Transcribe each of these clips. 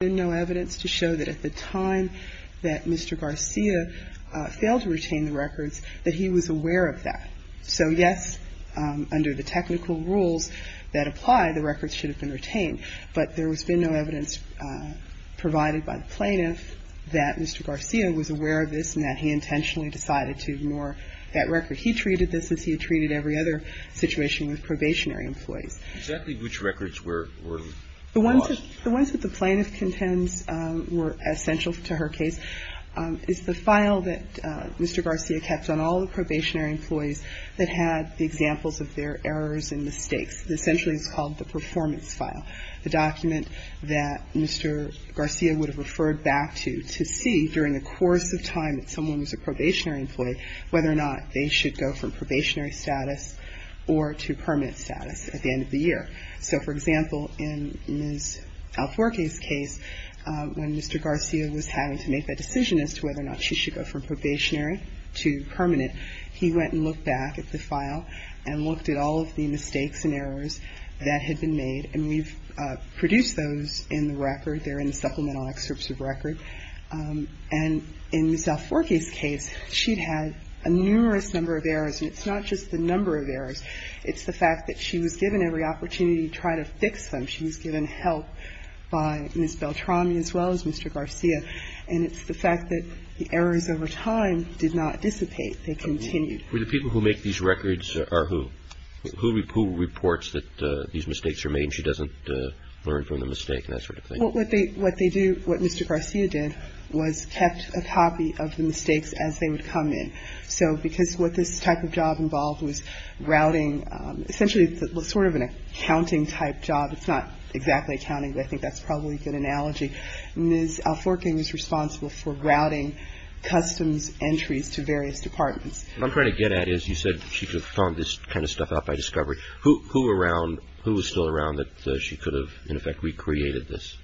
There has been no evidence to show that at the time that Mr. Garcia failed to retain the records, that he was aware of that. So yes, under the technical rules that apply, the records should have been retained, but there has been no evidence provided by the plaintiff that Mr. Garcia was aware of this and that he intentionally decided to ignore that record. He treated this as he had treated every other situation with probationary employees. Exactly which records were lost? The ones that the plaintiff contends were essential to her case is the file that Mr. Garcia kept on all the probationary employees that had the examples of their errors and mistakes. Essentially, it's called the performance file, the document that Mr. Garcia would have referred back to to see during the course of time that someone was a probationary employee whether or not they should go from probationary status or to permanent status at the end of the year. So, for example, in Ms. Alforque's case, when Mr. Garcia was having to make that decision as to whether or not she should go from probationary to permanent, he went and looked back at the file and looked at all of the mistakes and errors that had been made. And we've produced those in the record. They're in the supplemental excerpts of record. And in Ms. Alforque's case, she'd had a numerous number of errors, and it's not just the number of errors. It's the fact that she was given every opportunity to try to fix them. She was given help by Ms. Beltrami as well as Mr. Garcia. And it's the fact that the errors over time did not dissipate. They continued. Were the people who make these records are who? Who reports that these mistakes are made and she doesn't learn from the mistake and that sort of thing? Well, what they do, what Mr. Garcia did was kept a copy of the mistakes as they would come in. So because what this type of job involved was routing, essentially sort of an accounting type job. It's not exactly accounting, but I think that's probably a good analogy. Ms. Alforque was responsible for routing customs entries to various departments. What I'm trying to get at is you said she could have found this kind of stuff out by discovery. Who around, who was still around that she could have, in effect, recreated this?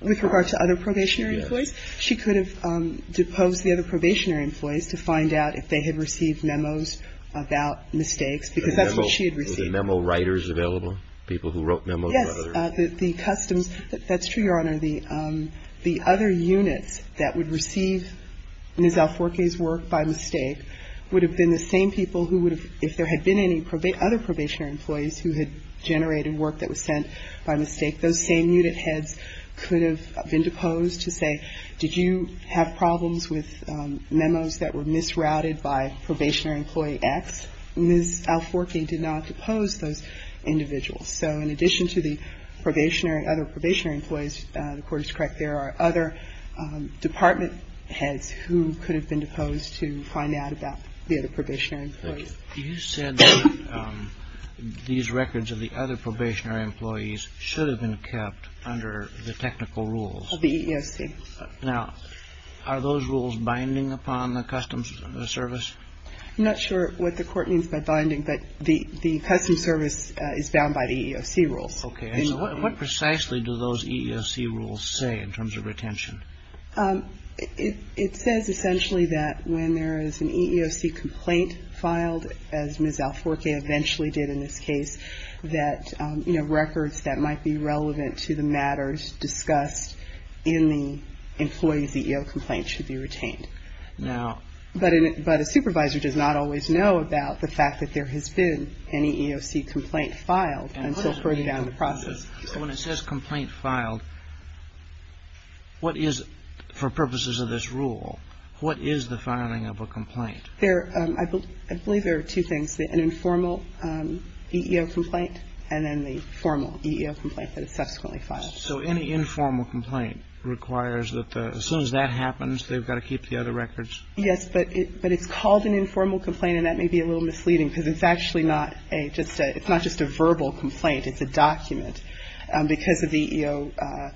With regard to other probationary employees? She could have deposed the other probationary employees to find out if they had received memos about mistakes because that's what she had received. Were there memo writers available, people who wrote memos? Yes. The customs, that's true, Your Honor. The other units that would receive Ms. Alforque's work by mistake would have been the same people who would have, if there had been any other probationary employees who had generated work that was sent by mistake, those same unit heads could have been deposed to say, did you have problems with memos that were misrouted by probationary employee X? Ms. Alforque did not depose those individuals. So in addition to the probationary, other probationary employees, the Court is correct, there are other department heads who could have been deposed to find out about the other probationary employees. You said that these records of the other probationary employees should have been kept under the technical rules. The EEOC. Now, are those rules binding upon the Customs Service? I'm not sure what the Court means by binding, but the Customs Service is bound by the EEOC rules. Okay. So what precisely do those EEOC rules say in terms of retention? It says essentially that when there is an EEOC complaint filed, as Ms. Alforque eventually did in this case, that records that might be relevant to the matters discussed in the employee's EEO complaint should be retained. But a supervisor does not always know about the fact that there has been an EEOC complaint filed until further down the process. So when it says complaint filed, what is, for purposes of this rule, what is the filing of a complaint? I believe there are two things, an informal EEO complaint and then the formal EEO complaint that is subsequently filed. So any informal complaint requires that as soon as that happens, they've got to keep the other records? Yes, but it's called an informal complaint, and that may be a little misleading because it's actually not just a verbal complaint. It's a document. Because of the EEO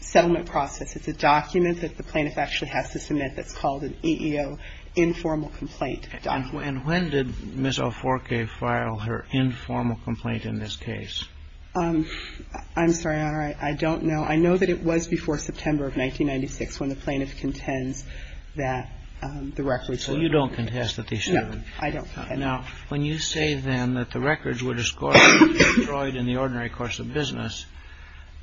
settlement process, it's a document that the plaintiff actually has to submit that's called an EEO informal complaint document. And when did Ms. Alforque file her informal complaint in this case? I'm sorry, Your Honor. I don't know. I know that it was before September of 1996 when the plaintiff contends that the records were discarded. So you don't contest that they should have been? No, I don't. Now, when you say, then, that the records were destroyed in the ordinary course of business,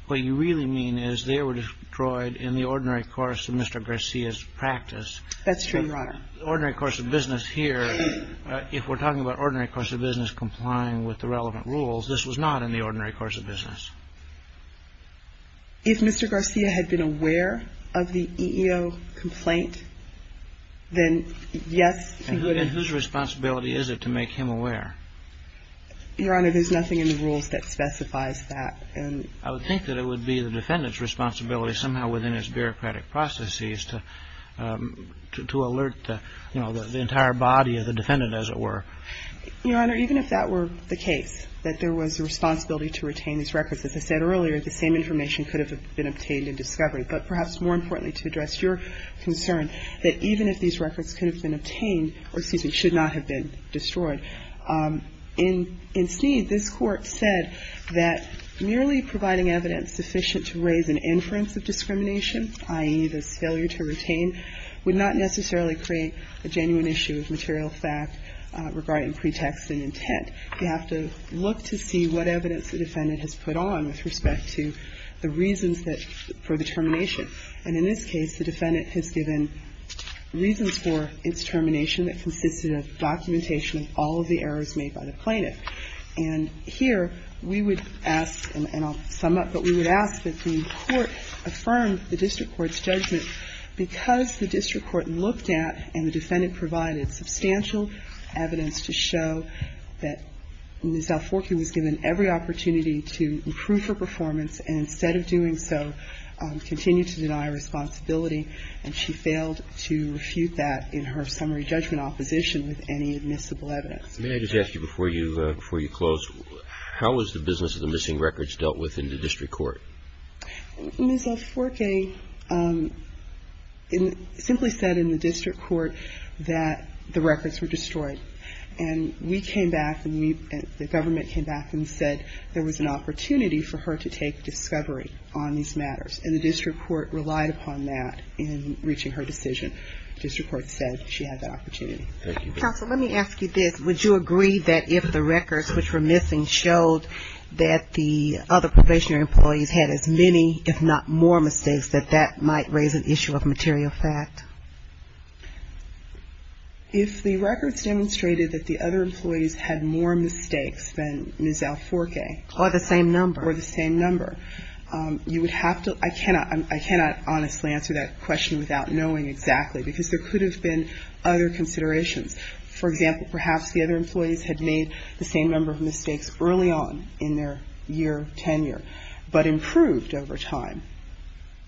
what you really mean is they were destroyed in the ordinary course of Mr. Garcia's practice. That's true, Your Honor. The ordinary course of business here, if we're talking about ordinary course of business complying with the relevant rules, this was not in the ordinary course of business. If Mr. Garcia had been aware of the EEO complaint, then yes, he would have. Then whose responsibility is it to make him aware? Your Honor, there's nothing in the rules that specifies that. I would think that it would be the defendant's responsibility somehow within his bureaucratic processes to alert, you know, the entire body of the defendant, as it were. Your Honor, even if that were the case, that there was a responsibility to retain these records, as I said earlier, the same information could have been obtained in discovery. But perhaps more importantly, to address your concern, that even if these records could have been obtained, or excuse me, should not have been destroyed. In Sneed, this Court said that merely providing evidence sufficient to raise an inference of discrimination, i.e., this failure to retain, would not necessarily create a genuine issue of material fact regarding pretext and intent. You have to look to see what evidence the defendant has put on with respect to the reasons for the termination. And in this case, the defendant has given reasons for its termination that consisted of documentation of all of the errors made by the plaintiff. And here we would ask, and I'll sum up, but we would ask that the Court affirm the district court's judgment because the district court looked at and the defendant provided substantial evidence to show that Ms. Alforque was given every opportunity to improve her performance and instead of doing so, continued to deny responsibility. And she failed to refute that in her summary judgment opposition with any admissible evidence. Let me just ask you before you close. How was the business of the missing records dealt with in the district court? Ms. Alforque simply said in the district court that the records were destroyed. And we came back and the government came back and said there was an opportunity for her to take discovery on these matters. And the district court relied upon that in reaching her decision. The district court said she had that opportunity. Counsel, let me ask you this. Would you agree that if the records which were missing showed that the other probationary employees had as many, if not more mistakes, that that might raise an issue of material fact? If the records demonstrated that the other employees had more mistakes than Ms. Alforque. Or the same number. Or the same number. You would have to – I cannot honestly answer that question without knowing exactly because there could have been other considerations. For example, perhaps the other employees had made the same number of mistakes early on in their year, tenure. But improved over time.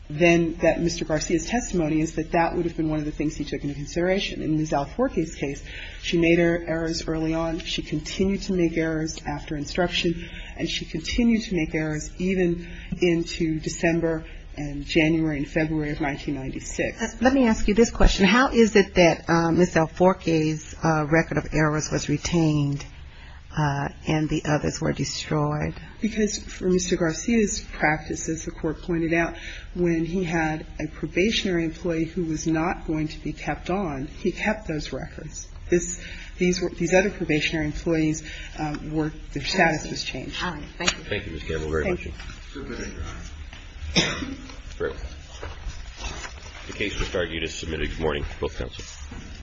Then that Mr. Garcia's testimony is that that would have been one of the things he took into consideration. In Ms. Alforque's case, she made errors early on. She continued to make errors after instruction. And she continued to make errors even into December and January and February of 1996. Let me ask you this question. How is it that Ms. Alforque's record of errors was retained and the others were destroyed? Because for Mr. Garcia's practice, as the court pointed out, when he had a probationary employee who was not going to be kept on, he kept those records. These other probationary employees were – their status was changed. All right. Thank you. Thank you, Ms. Campbell, very much. Thank you. The case is submitted. Good morning to both counsels.